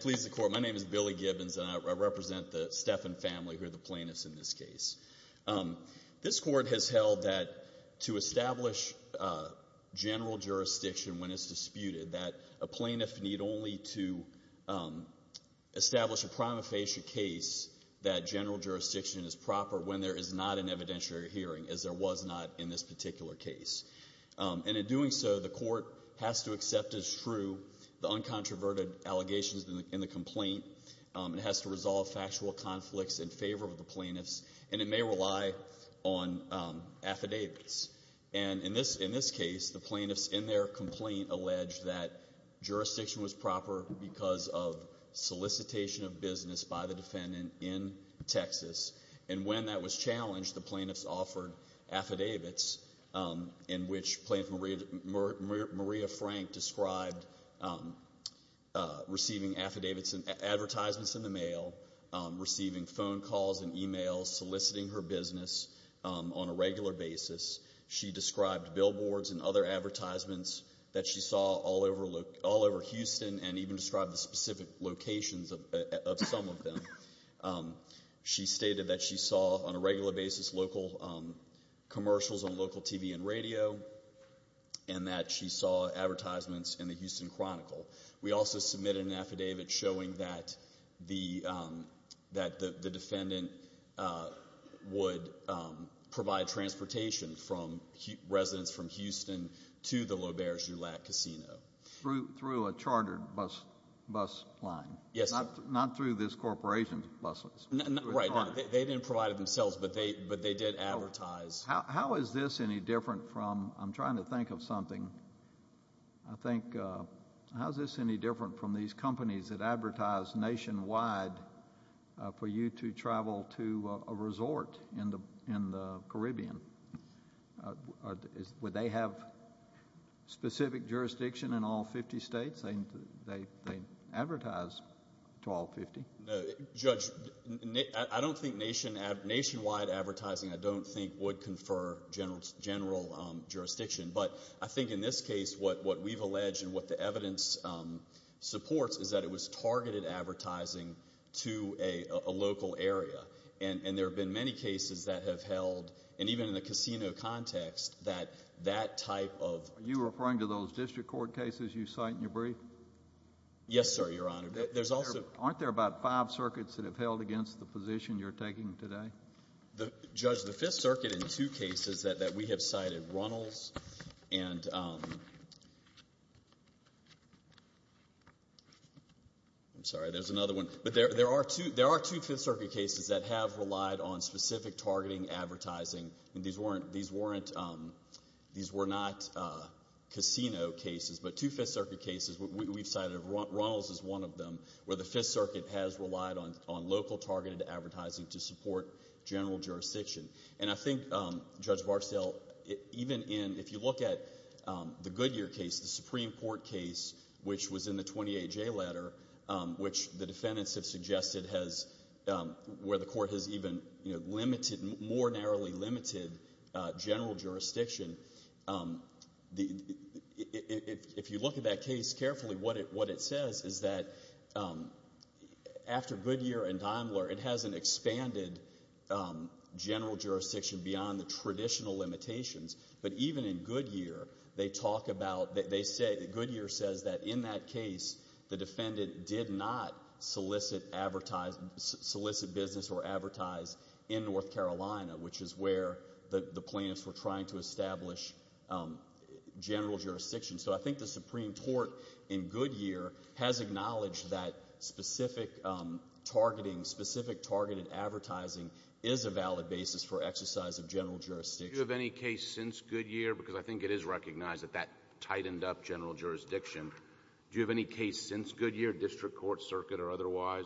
Please, the Court, my name is Billy Gibbons and I represent the Steffen family who are the plaintiffs in this case. This Court has held that to establish general jurisdiction when it's disputed, that a plaintiff need only to establish a prima facie case that general jurisdiction is proper when there is not an evidentiary hearing, as there was not in this particular case. And in doing so, the Court has to accept as true the uncontroverted allegations in the complaint. It has to resolve factual conflicts in favor of the plaintiffs and it may rely on affidavits. And in this case, the plaintiffs in their complaint alleged that jurisdiction was proper because of solicitation of business by the defendant in Texas. And when that was challenged, the plaintiffs offered affidavits in which Plaintiff Maria Frank described receiving affidavits and advertisements in the mail, receiving phone calls and e-mails soliciting her business on a regular basis. She described billboards and other advertisements that she saw all over Houston and even described the specific locations of some of them. She stated that she saw, on a regular basis, local commercials on local TV and radio and that she saw advertisements in the Houston Chronicle. We also submitted an affidavit showing that the defendant would provide transportation from residents from Houston to the LaBerge-Dulac Casino. Through a chartered bus line? Yes. Not through this corporation's buses? Right. They didn't provide it themselves, but they did advertise. How is this any different from – I'm trying to think of something. I think – how is this any different from these companies that advertise nationwide for you to travel to a resort in the Caribbean? Would they have specific jurisdiction in all 50 states? They advertise to all 50. Judge, I don't think nationwide advertising I don't think would confer general jurisdiction. But I think in this case what we've alleged and what the evidence supports is that it was targeted advertising to a local area. And there have been many cases that have held, and even in the casino context, that that type of – Are you referring to those district court cases you cite in your brief? Yes, sir, Your Honor. Aren't there about five circuits that have held against the position you're taking today? Judge, the Fifth Circuit in two cases that we have cited, Runnels and – I'm sorry. There's another one. But there are two Fifth Circuit cases that have relied on specific targeting advertising. These weren't – these were not casino cases, but two Fifth Circuit cases we've cited. Runnels is one of them where the Fifth Circuit has relied on local targeted advertising to support general jurisdiction. And I think, Judge Barstow, even in – if you look at the Goodyear case, the Supreme Court case, which was in the 28-J letter, which the defendants have suggested has – where the court has even limited – more narrowly limited general jurisdiction. If you look at that case carefully, what it says is that after Goodyear and Daimler, it hasn't expanded general jurisdiction beyond the traditional limitations. But even in Goodyear, they talk about – Goodyear says that in that case, the defendant did not solicit business or advertise in North Carolina, which is where the plaintiffs were trying to establish general jurisdiction. So I think the Supreme Court in Goodyear has acknowledged that specific targeting, specific targeted advertising is a valid basis for exercise of general jurisdiction. Do you have any case since Goodyear? Because I think it is recognized that that tightened up general jurisdiction. Do you have any case since Goodyear, district court, circuit, or otherwise,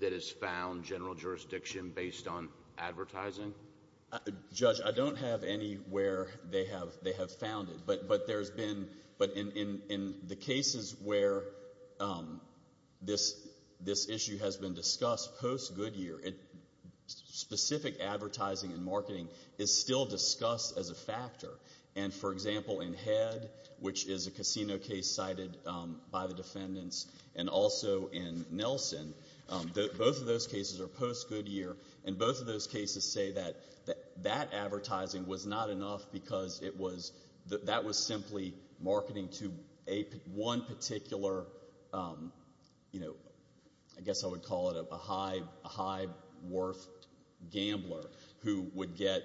that has found general jurisdiction based on advertising? Judge, I don't have any where they have found it. But there's been – but in the cases where this issue has been discussed post-Goodyear, specific advertising and marketing is still discussed as a factor. And, for example, in Head, which is a casino case cited by the defendants, and also in Nelson, both of those cases are post-Goodyear, and both of those cases say that that advertising was not enough because it was – that was simply marketing to one particular, you know, I guess I would call it a high worth gambler who would get,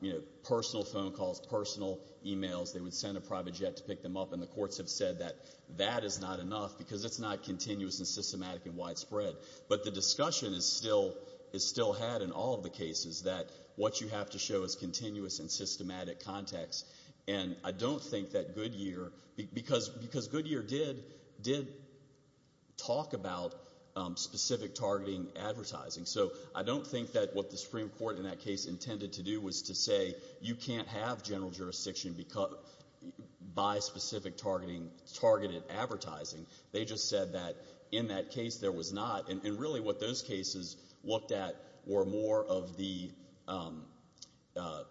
you know, personal phone calls, personal emails. They would send a private jet to pick them up. And the courts have said that that is not enough because it's not continuous and systematic and widespread. But the discussion is still had in all of the cases that what you have to show is continuous and systematic context. And I don't think that Goodyear – because Goodyear did talk about specific targeting advertising. So I don't think that what the Supreme Court in that case intended to do was to say, you can't have general jurisdiction by specific targeting targeted advertising. They just said that in that case there was not. And really what those cases looked at were more of the –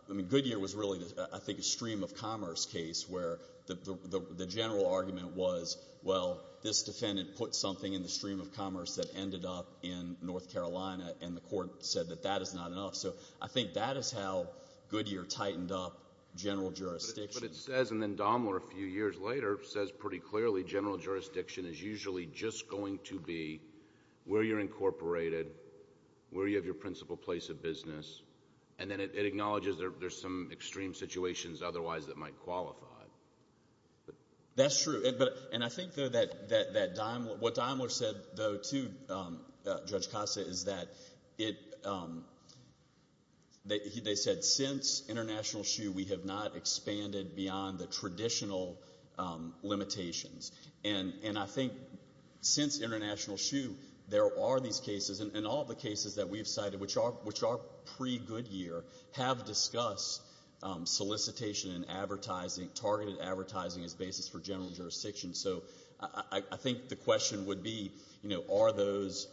I mean, Goodyear was really, I think, a stream of commerce case where the general argument was, well, this defendant put something in the stream of commerce that ended up in North Carolina, and the court said that that is not enough. So I think that is how Goodyear tightened up general jurisdiction. But it says – and then Daimler a few years later says pretty clearly general jurisdiction is usually just going to be where you're incorporated, where you have your principal place of business. And then it acknowledges there's some extreme situations otherwise that might qualify. That's true. And I think, though, that Daimler – what Daimler said, though, too, Judge Costa, is that it – they said since international shoe we have not expanded beyond the traditional limitations. And I think since international shoe there are these cases, and all the cases that we've cited, which are pre-Goodyear, have discussed solicitation and advertising, targeted advertising as basis for general jurisdiction. So I think the question would be, are those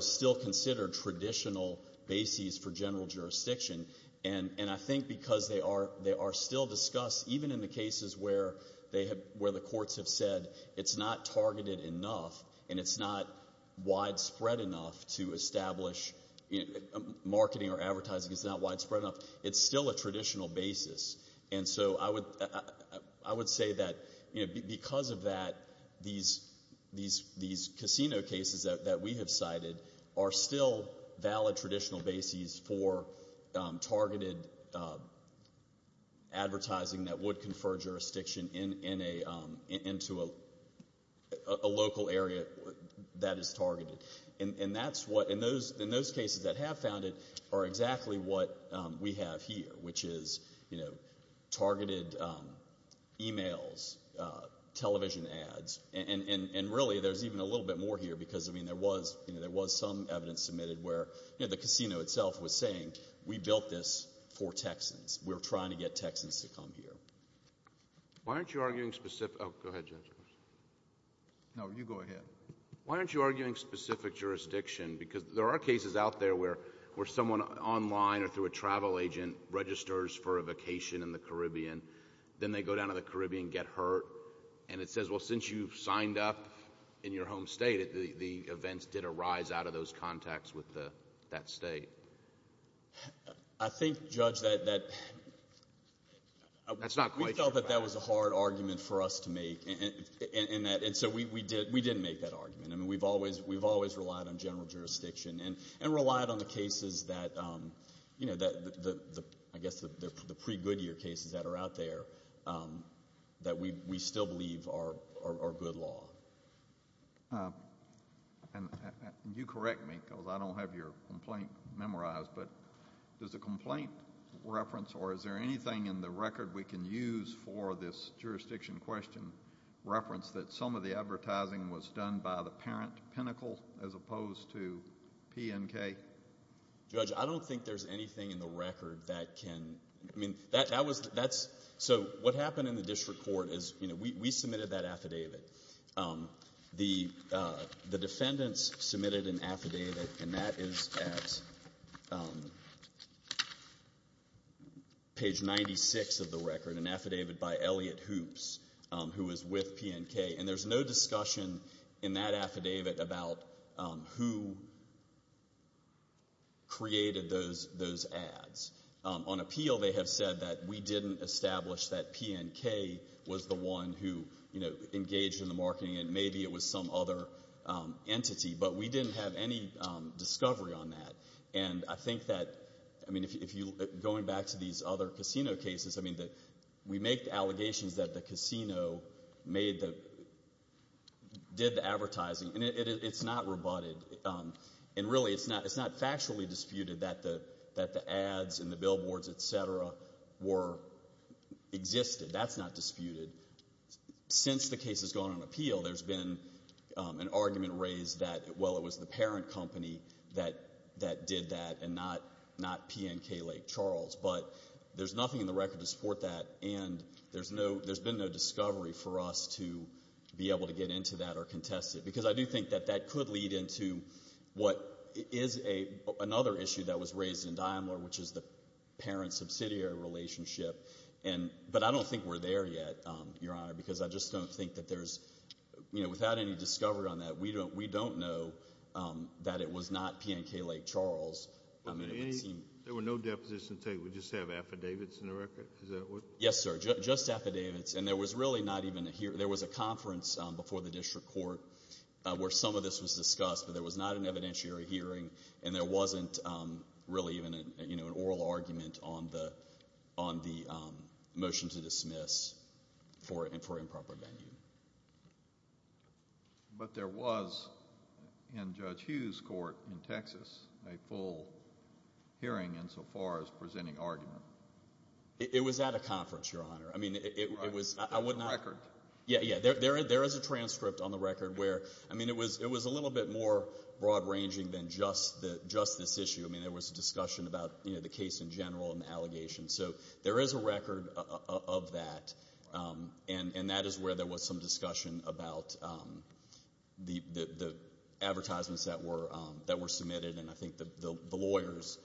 still considered traditional bases for general jurisdiction? And I think because they are still discussed, even in the cases where the courts have said it's not targeted enough and it's not widespread enough to establish – marketing or advertising is not widespread enough, it's still a traditional basis. And so I would say that because of that, these casino cases that we have cited are still valid traditional bases for targeted advertising that would confer jurisdiction into a local area that is targeted. And that's what – and those cases that have found it are exactly what we have here, which is targeted emails, television ads. And really there's even a little bit more here because, I mean, there was some evidence submitted where the casino itself was saying, we built this for Texans. We're trying to get Texans to come here. Why aren't you arguing specific – oh, go ahead, Judge. No, you go ahead. Why aren't you arguing specific jurisdiction? Because there are cases out there where someone online or through a travel agent registers for a vacation in the Caribbean. Then they go down to the Caribbean, get hurt, and it says, well, since you've signed up in your home state, the events did arise out of those contacts with that state. I think, Judge, that we felt that that was a hard argument for us to make. And so we didn't make that argument. I mean, we've always relied on general jurisdiction and relied on the cases that – I guess the pre-Goodyear cases that are out there that we still believe are good law. And you correct me because I don't have your complaint memorized, but does the complaint reference or is there anything in the record we can use for this jurisdiction question reference that some of the advertising was done by the parent pinnacle as opposed to PNK? Judge, I don't think there's anything in the record that can – I mean, that was – that's – so what happened in the district court is we submitted that affidavit. The defendants submitted an affidavit, and that is at page 96 of the record, an affidavit by Elliot Hoops, who was with PNK. And there's no discussion in that affidavit about who created those ads. On appeal, they have said that we didn't establish that PNK was the one who engaged in the marketing and maybe it was some other entity, but we didn't have any discovery on that. And I think that – I mean, going back to these other casino cases, I mean, we make the allegations that the casino made the – did the advertising, and it's not rebutted. And really, it's not factually disputed that the ads and the billboards, et cetera, existed. That's not disputed. Since the case has gone on appeal, there's been an argument raised that, well, it was the parent company that did that and not PNK Lake Charles. But there's nothing in the record to support that, and there's been no discovery for us to be able to get into that or contest it because I do think that that could lead into what is another issue that was raised in Daimler, which is the parent-subsidiary relationship. But I don't think we're there yet, Your Honor, because I just don't think that there's – without any discovery on that, we don't know that it was not PNK Lake Charles. There were no depositions taken. We just have affidavits in the record? Yes, sir, just affidavits. And there was really not even a – there was a conference before the district court where some of this was discussed, but there was not an evidentiary hearing, and there wasn't really even an oral argument on the motion to dismiss for improper venue. But there was, in Judge Hughes' court in Texas, a full hearing insofar as presenting argument. It was at a conference, Your Honor. I mean, it was – I would not – In the record? Yeah, yeah. There is a transcript on the record where – I mean, it was a little bit more broad-ranging than just this issue. I mean, there was a discussion about the case in general and the allegations. So there is a record of that, and that is where there was some discussion about the advertisements that were submitted, and I think the lawyers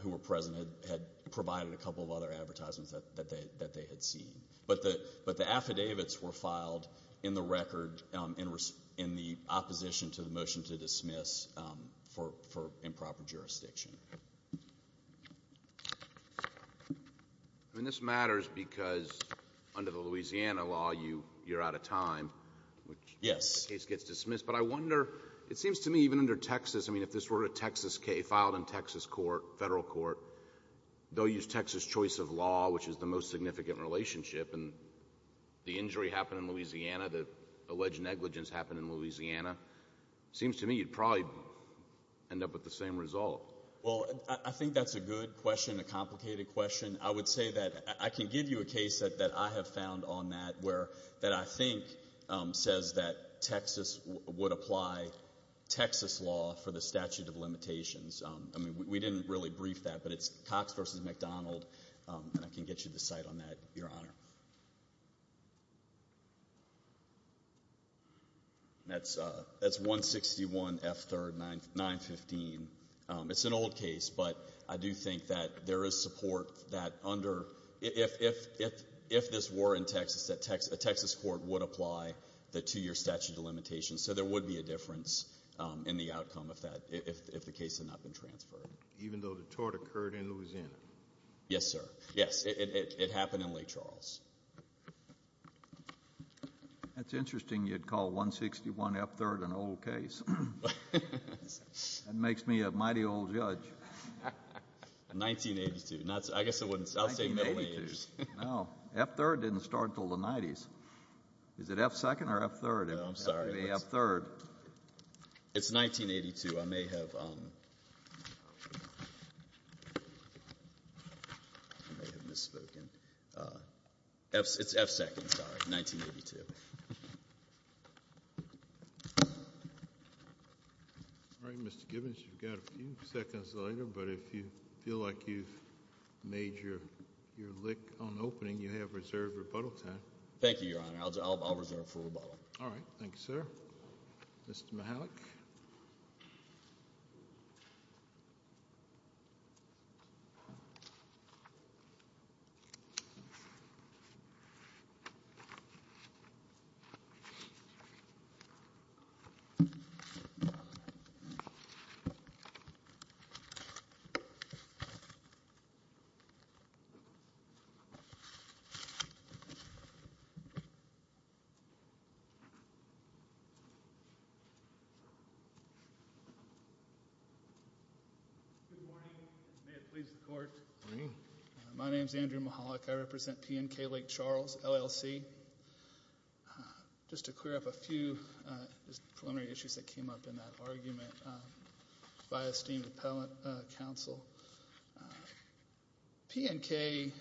who were present had provided a couple of other advertisements that they had seen. But the affidavits were filed in the record in the opposition to the motion to dismiss for improper jurisdiction. I mean, this matters because under the Louisiana law, you're out of time. Yes. The case gets dismissed. But I wonder – it seems to me even under Texas, I mean, if this were a Texas case filed in Texas court, federal court, they'll use Texas choice of law, which is the most significant relationship, and the injury happened in Louisiana, the alleged negligence happened in Louisiana. It seems to me you'd probably end up with the same result. Well, I think that's a good question, a complicated question. I would say that I can give you a case that I have found on that where – that I think says that Texas would apply Texas law for the statute of limitations. I mean, we didn't really brief that, but it's Cox v. McDonald, and I can get you the site on that, Your Honor. That's 161 F. 3rd, 915. It's an old case, but I do think that there is support that under – if this were in Texas, a Texas court would apply the two-year statute of limitations. So there would be a difference in the outcome if the case had not been transferred. Even though the tort occurred in Louisiana? Yes, sir. Yes, it happened in Lake Charles. That's interesting you'd call 161 F. 3rd an old case. That makes me a mighty old judge. 1982. I guess I wouldn't – I'll say middle age. No, F. 3rd didn't start until the 90s. Is it F. 2nd or F. 3rd? I don't know. I'm sorry. F. 3rd. It's 1982. I may have – I may have misspoken. It's F. 2nd, sorry, 1982. All right, Mr. Gibbons, you've got a few seconds later, but if you feel like you've made your lick on opening, you have reserved rebuttal time. Thank you, Your Honor. I'll reserve for rebuttal. All right. Thank you, sir. Mr. Mihalik. Good morning. May it please the Court. Good morning. My name is Andrew Mihalik. I represent PNK Lake Charles, LLC. Just to clear up a few preliminary issues that came up in that argument, by esteemed appellate counsel, PNK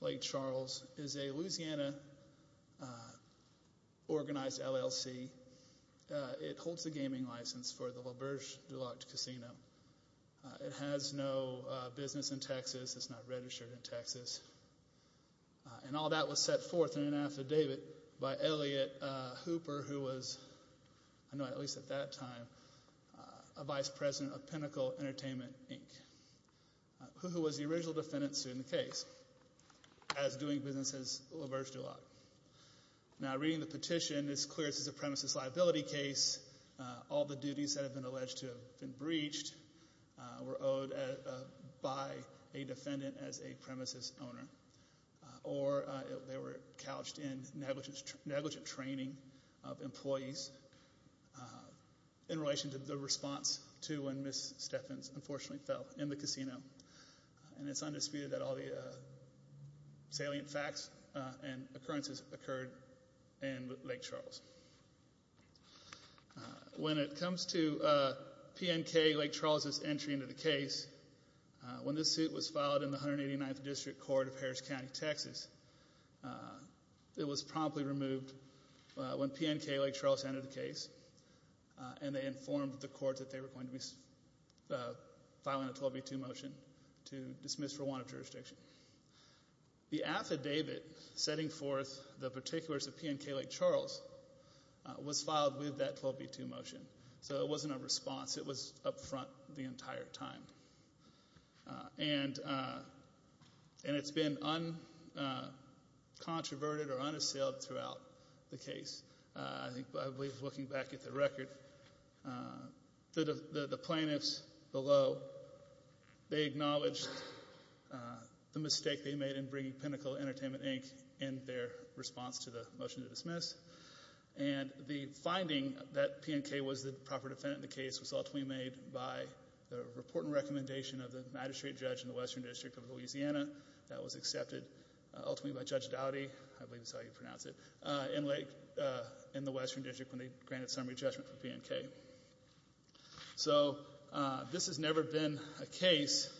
Lake Charles is a Louisiana-organized LLC. It holds a gaming license for the LaBerge Deluxe Casino. It has no business in Texas. It's not registered in Texas. And all that was set forth in an affidavit by Elliot Hooper, who was, I know at least at that time, a vice president of Pinnacle Entertainment, Inc., who was the original defendant sued in the case as doing business as LaBerge Deluxe. Now, reading the petition, it's clear this is a premises liability case. All the duties that have been alleged to have been breached were owed by a defendant as a premises owner, or they were couched in negligent training of employees in relation to the response to when Ms. Stephens unfortunately fell in the casino. And it's undisputed that all the salient facts and occurrences occurred in Lake Charles. When it comes to PNK Lake Charles's entry into the case, when this suit was filed in the 189th District Court of Harris County, Texas, it was promptly removed when PNK Lake Charles entered the case, and they informed the court that they were going to be filing a 12b-2 motion to dismiss Rwanda jurisdiction. The affidavit setting forth the particulars of PNK Lake Charles was filed with that 12b-2 motion, so it wasn't a response. It was up front the entire time. And it's been uncontroverted or unassailed throughout the case. I believe looking back at the record, the plaintiffs below, they acknowledged the mistake they made in bringing Pinnacle Entertainment, Inc. in their response to the motion to dismiss. And the finding that PNK was the proper defendant in the case was ultimately made by the report and recommendation of the magistrate judge in the Western District of Louisiana that was accepted ultimately by Judge Dowdy, I believe that's how you pronounce it, in the Western District when they granted summary judgment for PNK. So this has never been a case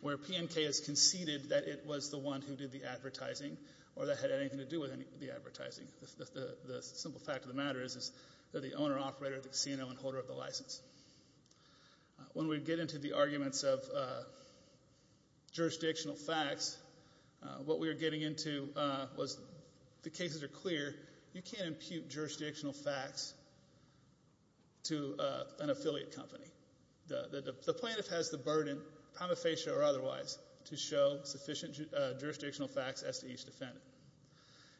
where PNK has conceded that it was the one who did the advertising or that had anything to do with the advertising. The simple fact of the matter is that the owner, operator, the casino, and holder of the license. When we get into the arguments of jurisdictional facts, what we were getting into was the cases are clear. You can't impute jurisdictional facts to an affiliate company. The plaintiff has the burden, prima facie or otherwise, to show sufficient jurisdictional facts as to each defendant.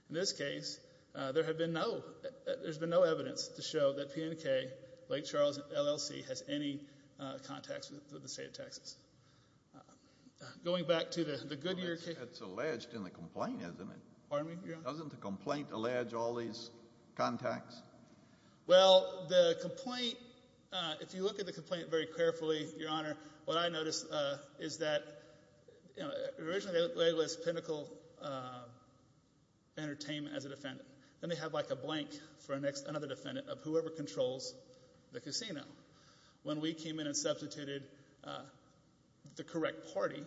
In this case, there's been no evidence to show that PNK, Lake Charles, LLC, has any contacts with the state of Texas. Going back to the Goodyear case. It's alleged in the complaint, isn't it? Pardon me, Your Honor? Doesn't the complaint allege all these contacts? Well, the complaint, if you look at the complaint very carefully, Your Honor, what I notice is that originally they labeled this Pinnacle Entertainment as a defendant. Then they have like a blank for another defendant of whoever controls the casino. When we came in and substituted the correct party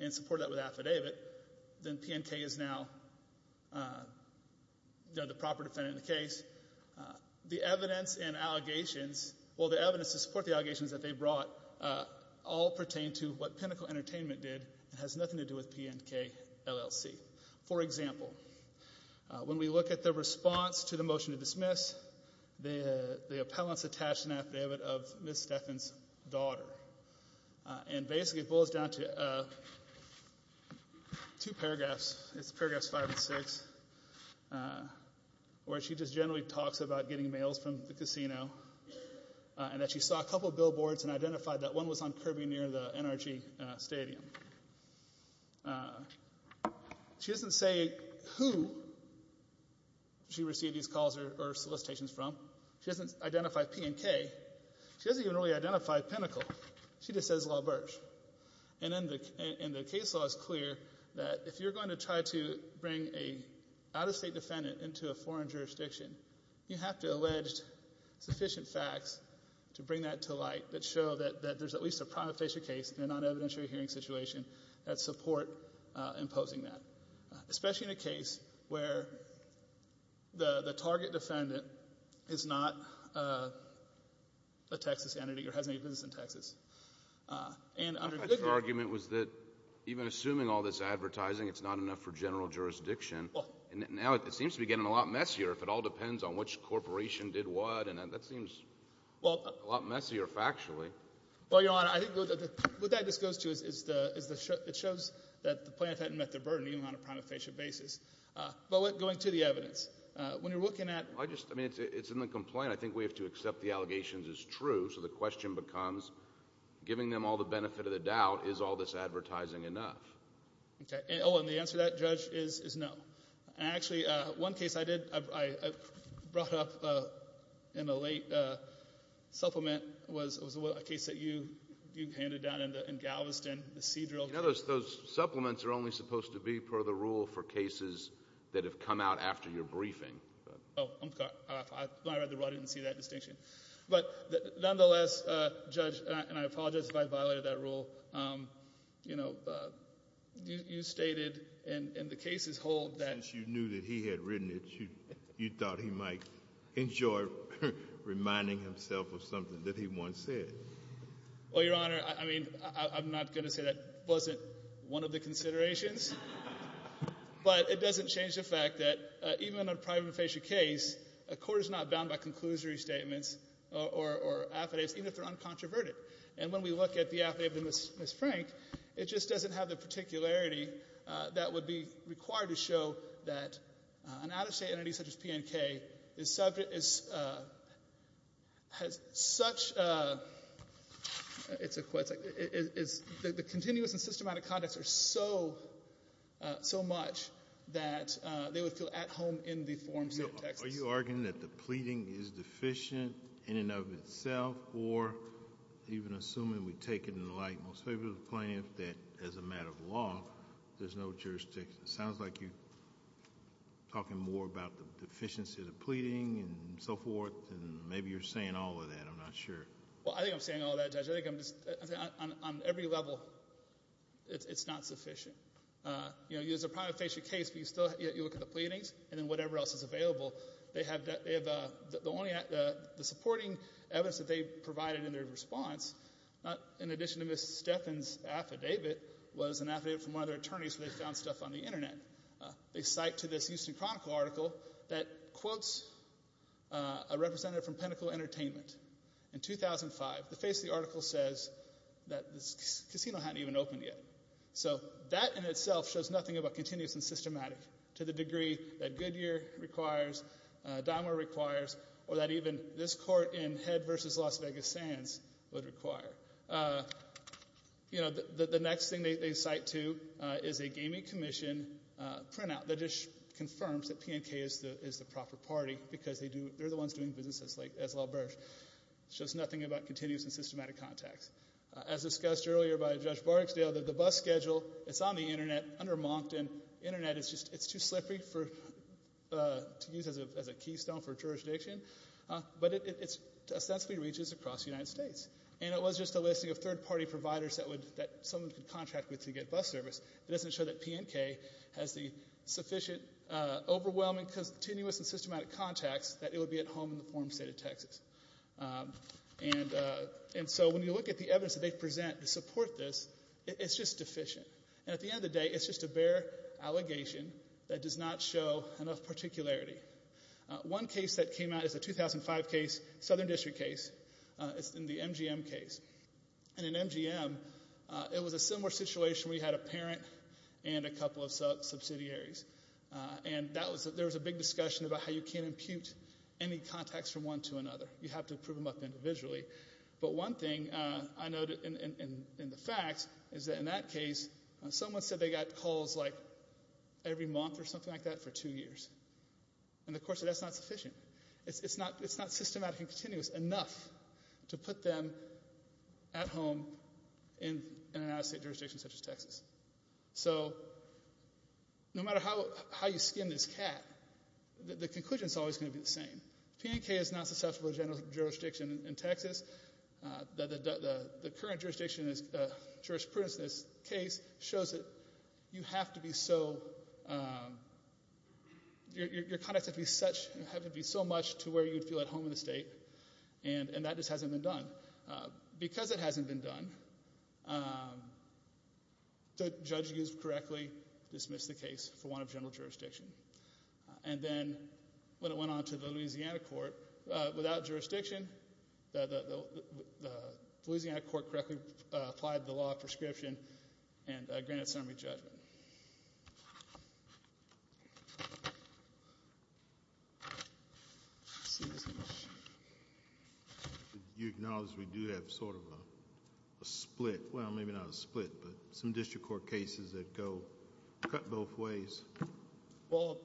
and supported that with affidavit, then PNK is now the proper defendant in the case. The evidence and allegations, well, the evidence to support the allegations that they brought all pertain to what Pinnacle Entertainment did and has nothing to do with PNK, LLC. For example, when we look at the response to the motion to dismiss, the appellant's attached an affidavit of Ms. Stephan's daughter. And basically it boils down to two paragraphs. It's paragraphs five and six where she just generally talks about getting mails from the casino and that she saw a couple billboards and identified that one was on Kirby near the NRG Stadium. She doesn't say who she received these calls or solicitations from. She doesn't identify PNK. She doesn't even really identify Pinnacle. She just says LaBerge. And then the case law is clear that if you're going to try to bring an out-of-state defendant into a foreign jurisdiction, you have to allege sufficient facts to bring that to light that show that there's at least a prima facie case in an evidentiary hearing situation that support imposing that, especially in a case where the target defendant is not a Texas entity or has any business in Texas. Your argument was that even assuming all this advertising, it's not enough for general jurisdiction. Now it seems to be getting a lot messier if it all depends on which corporation did what, and that seems a lot messier factually. Well, Your Honor, I think what that just goes to is it shows that the plaintiff hadn't met their burden, even on a prima facie basis. But going to the evidence, when you're looking at— I just—I mean, it's in the complaint. I think we have to accept the allegations as true. So the question becomes, giving them all the benefit of the doubt, is all this advertising enough? Okay. Oh, and the answer to that, Judge, is no. Actually, one case I did—I brought up in a late supplement was a case that you handed down in Galveston, the C-drill case. In other words, those supplements are only supposed to be per the rule for cases that have come out after your briefing. Oh, I'm sorry. I'm glad the audience didn't see that distinction. But nonetheless, Judge, and I apologize if I violated that rule, you know, you stated in the case's whole that— Since you knew that he had written it, you thought he might enjoy reminding himself of something that he once said. Well, Your Honor, I mean, I'm not going to say that wasn't one of the considerations. But it doesn't change the fact that even on a private and facial case, a court is not bound by conclusory statements or affidavits, even if they're uncontroverted. And when we look at the affidavit of Ms. Frank, it just doesn't have the particularity that would be required to show that an out-of-state entity such as PNK is subject—has such a—it's a question. Is the continuous and systematic conducts are so much that they would feel at home in the forms of Texas. Are you arguing that the pleading is deficient in and of itself, or even assuming we take it in the light most favorably of the plaintiff, that as a matter of law, there's no jurisdiction? It sounds like you're talking more about the deficiency of the pleading and so forth, and maybe you're saying all of that. I'm not sure. Well, I think I'm saying all of that, Judge. I think I'm just—on every level, it's not sufficient. You know, as a prima facie case, you still—you look at the pleadings and then whatever else is available. They have—the only—the supporting evidence that they provided in their response, in addition to Ms. Stephan's affidavit, was an affidavit from one of their attorneys where they found stuff on the Internet. They cite to this Houston Chronicle article that quotes a representative from Pinnacle Entertainment. In 2005, the face of the article says that this casino hadn't even opened yet. So that in itself shows nothing about continuous and systematic to the degree that Goodyear requires, Dymer requires, or that even this court in Head v. Las Vegas Sands would require. You know, the next thing they cite to is a gaming commission printout that just confirms that PNK is the proper party because they do—they're the ones doing business as LaBerge. It shows nothing about continuous and systematic contacts. As discussed earlier by Judge Barksdale, the bus schedule, it's on the Internet under Moncton. The Internet is just—it's too slippery for—to use as a keystone for jurisdiction, but it ostensibly reaches across the United States. And it was just a listing of third-party providers that would—that someone could contract with to get bus service. It doesn't show that PNK has the sufficient, overwhelming, continuous, and systematic contacts that it would be at home in the form of the state of Texas. And so when you look at the evidence that they present to support this, it's just deficient. And at the end of the day, it's just a bare allegation that does not show enough particularity. One case that came out is a 2005 case, Southern District case. It's in the MGM case. And in MGM, it was a similar situation where you had a parent and a couple of subsidiaries. And that was—there was a big discussion about how you can't impute any contacts from one to another. You have to prove them up individually. But one thing I noted in the facts is that in that case, someone said they got calls like every month or something like that for two years. And of course, that's not sufficient. It's not systematic and continuous enough to put them at home in an out-of-state jurisdiction such as Texas. So no matter how you skin this cat, the conclusion is always going to be the same. PNK is not susceptible to general jurisdiction in Texas. The current jurisprudence in this case shows that you have to be so—your contacts have to be so much to where you'd feel at home in the state. And that just hasn't been done. Because it hasn't been done, the judge used correctly dismissed the case for one of general jurisdiction. And then when it went on to the Louisiana court, without jurisdiction, the Louisiana court correctly applied the law of prescription and granted summary judgment. You acknowledge we do have sort of a split—well, maybe not a split, but some district court cases that go both ways. Well,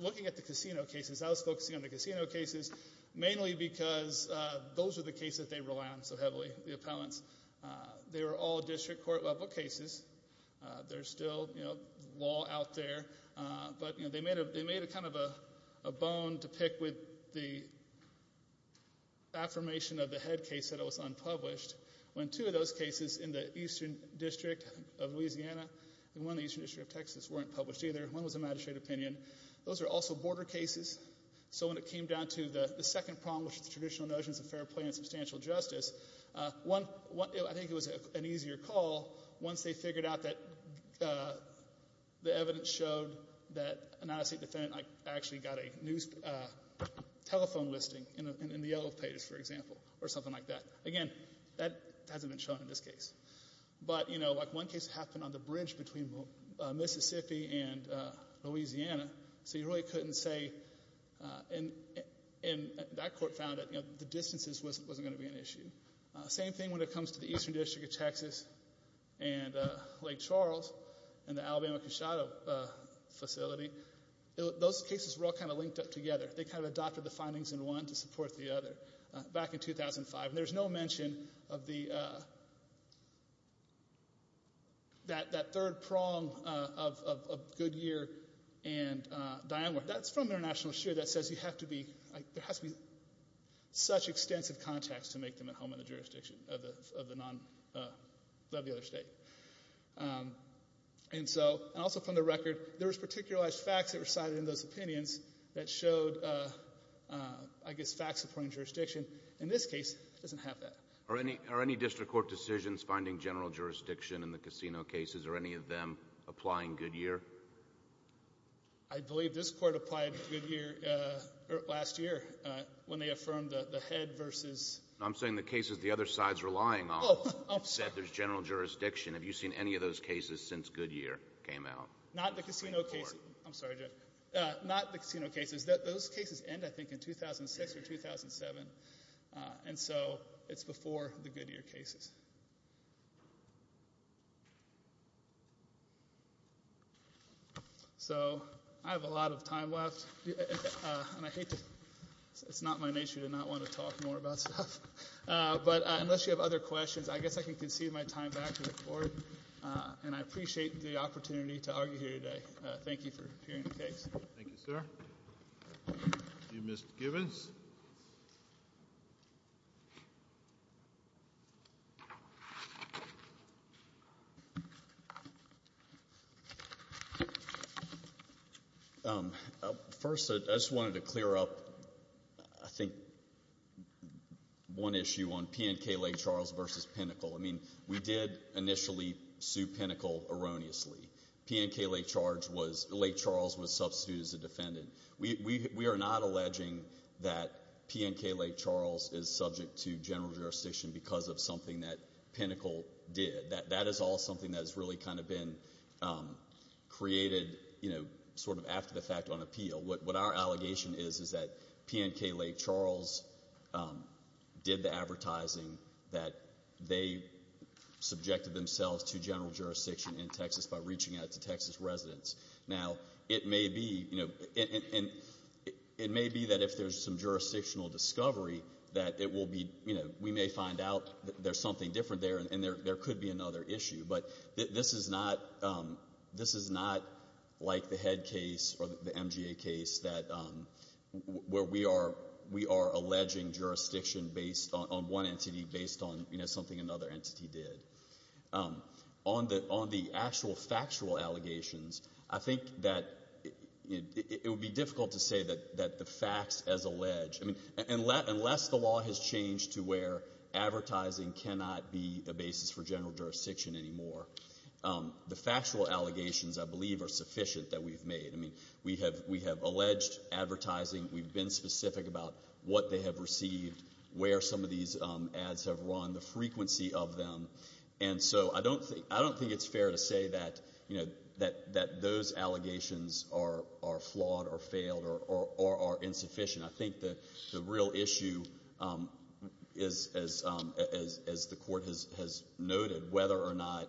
looking at the casino cases, I was focusing on the casino cases mainly because those are the cases they rely on so heavily, the appellants. They were all district court-level cases. There's still law out there. But they made kind of a bone to pick with the affirmation of the head case that it was unpublished, when two of those cases in the eastern district of Louisiana and one in the eastern district of Texas weren't published either. One was a magistrate opinion. Those are also border cases. So when it came down to the second problem, which is the traditional notions of fair play and substantial justice, I think it was an easier call once they figured out that the evidence showed that an out-of-state defendant actually got a telephone listing in the yellow pages, for example, or something like that. Again, that hasn't been shown in this case. But, you know, like one case happened on the bridge between Mississippi and Louisiana, so you really couldn't say, and that court found that the distances wasn't going to be an issue. Same thing when it comes to the eastern district of Texas and Lake Charles and the Alabama Cachado facility. Those cases were all kind of linked up together. They kind of adopted the findings in one to support the other back in 2005. And there's no mention of that third prong of Goodyear and Dianeworth. That's from International Sheer that says there has to be such extensive context to make them at home in the jurisdiction of the other state. And also from the record, there was particularized facts that were cited in those opinions that showed, I guess, facts supporting jurisdiction. And this case doesn't have that. Are any district court decisions finding general jurisdiction in the casino cases? Are any of them applying Goodyear? I believe this court applied Goodyear last year when they affirmed the head versus — I'm saying the cases the other side's relying on. Oh, I'm sorry. Said there's general jurisdiction. Have you seen any of those cases since Goodyear came out? Not the casino cases. I'm sorry, Judge. Not the casino cases. Those cases end, I think, in 2006 or 2007. And so it's before the Goodyear cases. So I have a lot of time left. And I hate to — it's not my nature to not want to talk more about stuff. But unless you have other questions, I guess I can concede my time back to the court. And I appreciate the opportunity to argue here today. Thank you for hearing the case. Thank you, sir. Mr. Givens. First, I just wanted to clear up, I think, one issue on P&K Lake Charles versus Pinnacle. I mean, we did initially sue Pinnacle erroneously. P&K Lake Charles was substituted as a defendant. We are not alleging that P&K Lake Charles is subject to general jurisdiction because of something that Pinnacle did. That is all something that has really kind of been created, you know, sort of after the fact on appeal. What our allegation is is that P&K Lake Charles did the advertising that they subjected themselves to general jurisdiction in Texas by reaching out to Texas residents. Now, it may be, you know — and it may be that if there's some jurisdictional discovery that it will be — you know, we may find out that there's something different there and there could be another issue. But this is not like the head case or the MGA case where we are alleging jurisdiction on one entity based on, you know, something another entity did. On the actual factual allegations, I think that it would be difficult to say that the facts as alleged — unless the law has changed to where advertising cannot be a basis for general jurisdiction anymore, the factual allegations, I believe, are sufficient that we've made. I mean, we have alleged advertising. We've been specific about what they have received, where some of these ads have run, the frequency of them. And so I don't think it's fair to say that, you know, that those allegations are flawed or failed or are insufficient. I think the real issue is, as the court has noted, whether or not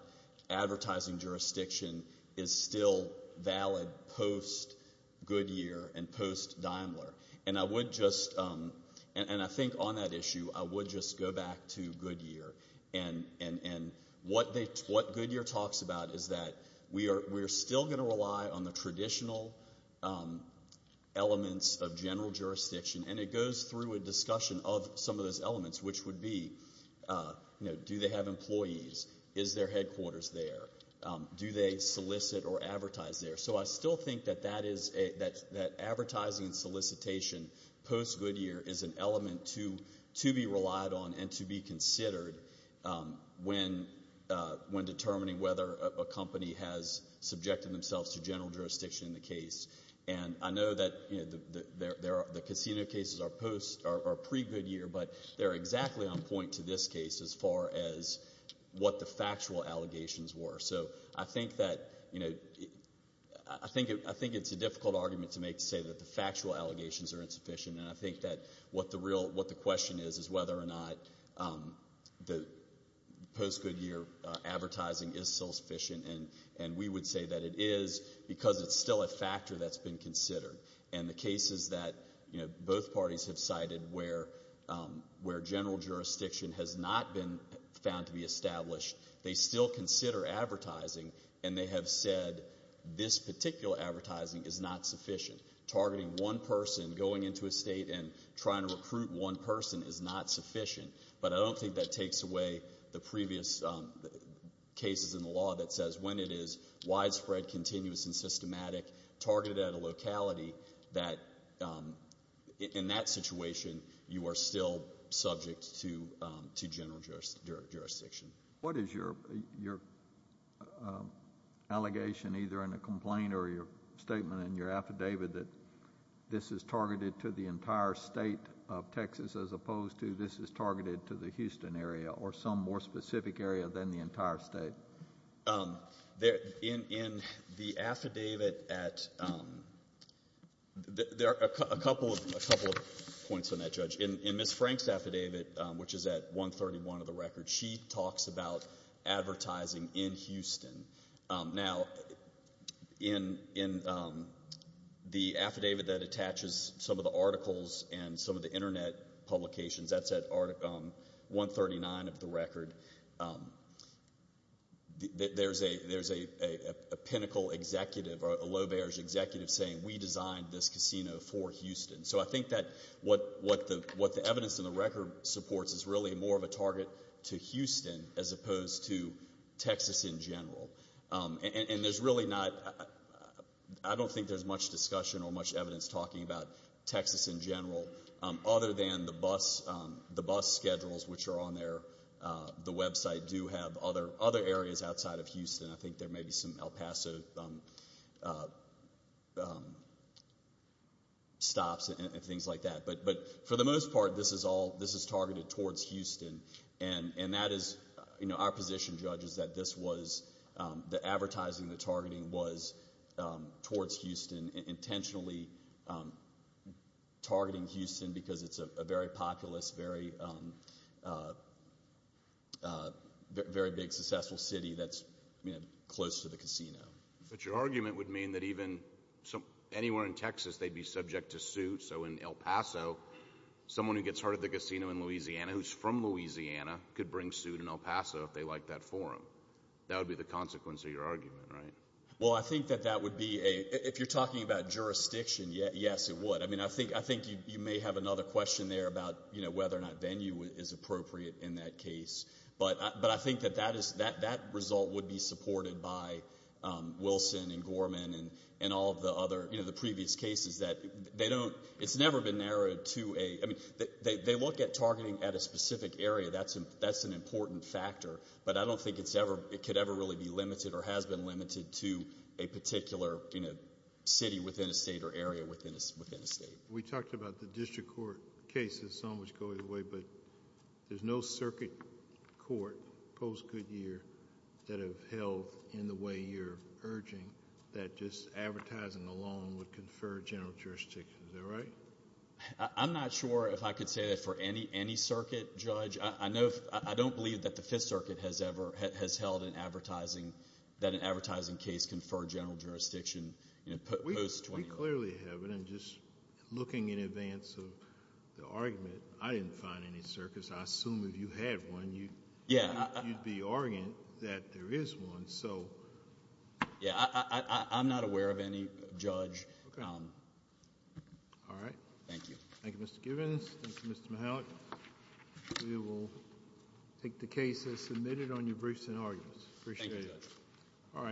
advertising jurisdiction is still valid post-Goodyear and post-Daimler. And I would just — and I think on that issue, I would just go back to Goodyear. And what Goodyear talks about is that we are still going to rely on the traditional elements of general jurisdiction. And it goes through a discussion of some of those elements, which would be, you know, do they have employees? Is their headquarters there? Do they solicit or advertise there? So I still think that advertising and solicitation post-Goodyear is an element to be relied on and to be considered when determining whether a company has subjected themselves to general jurisdiction in the case. And I know that, you know, the casino cases are pre-Goodyear, but they're exactly on point to this case as far as what the factual allegations were. So I think that, you know, I think it's a difficult argument to make to say that the factual allegations are insufficient. And I think that what the question is is whether or not the post-Goodyear advertising is still sufficient. And we would say that it is because it's still a factor that's been considered. And the cases that, you know, both parties have cited where general jurisdiction has not been found to be established, they still consider advertising and they have said this particular advertising is not sufficient. Targeting one person going into a state and trying to recruit one person is not sufficient. But I don't think that takes away the previous cases in the law that says when it is widespread, continuous, and systematic, targeted at a locality that in that situation you are still subject to general jurisdiction. What is your allegation, either in a complaint or your statement in your affidavit, that this is targeted to the entire state of Texas as opposed to this is targeted to the Houston area or some more specific area than the entire state? In the affidavit at ‑‑ there are a couple of points on that, Judge. In Ms. Frank's affidavit, which is at 131 of the record, she talks about advertising in Houston. Now, in the affidavit that attaches some of the articles and some of the Internet publications, that's at 139 of the record, there's a pinnacle executive or a low‑barrier executive saying we designed this casino for Houston. So I think that what the evidence in the record supports is really more of a target to Houston as opposed to Texas in general. And there's really not ‑‑ I don't think there's much discussion or much evidence talking about Texas in general other than the bus schedules, which are on the website, do have other areas outside of Houston. I think there may be some El Paso stops and things like that. But for the most part, this is targeted towards Houston. And that is ‑‑ our position, Judge, is that this was ‑‑ the advertising, the targeting was towards Houston, intentionally targeting Houston because it's a very populous, very big, successful city that's close to the casino. But your argument would mean that even anywhere in Texas they'd be subject to suit. So in El Paso, someone who gets hurt at the casino in Louisiana, who's from Louisiana, could bring suit in El Paso if they liked that forum. That would be the consequence of your argument, right? Well, I think that that would be a ‑‑ if you're talking about jurisdiction, yes, it would. I mean, I think you may have another question there about whether or not venue is appropriate in that case. But I think that that result would be supported by Wilson and Gorman and all of the other, you know, the previous cases that they don't ‑‑ it's never been narrowed to a ‑‑ I mean, they look at targeting at a specific area. That's an important factor. But I don't think it could ever really be limited or has been limited to a particular, you know, city within a state or area within a state. We talked about the district court cases, some of which go either way, but there's no circuit court post Goodyear that have held in the way you're urging that just advertising alone would confer general jurisdiction. Is that right? I'm not sure if I could say that for any circuit, Judge. I know if ‑‑ I don't believe that the Fifth Circuit has ever, has held an advertising, that an advertising case confer general jurisdiction, you know, post Goodyear. I clearly haven't. I'm just looking in advance of the argument. I didn't find any circuits. I assume if you had one, you'd be arguing that there is one. So ‑‑ Yeah. I'm not aware of any, Judge. Okay. All right. Thank you. Thank you, Mr. Givens. Thank you, Mr. Mahalik. We will take the case as submitted on your briefs and arguments. Appreciate it. Thank you, Judge.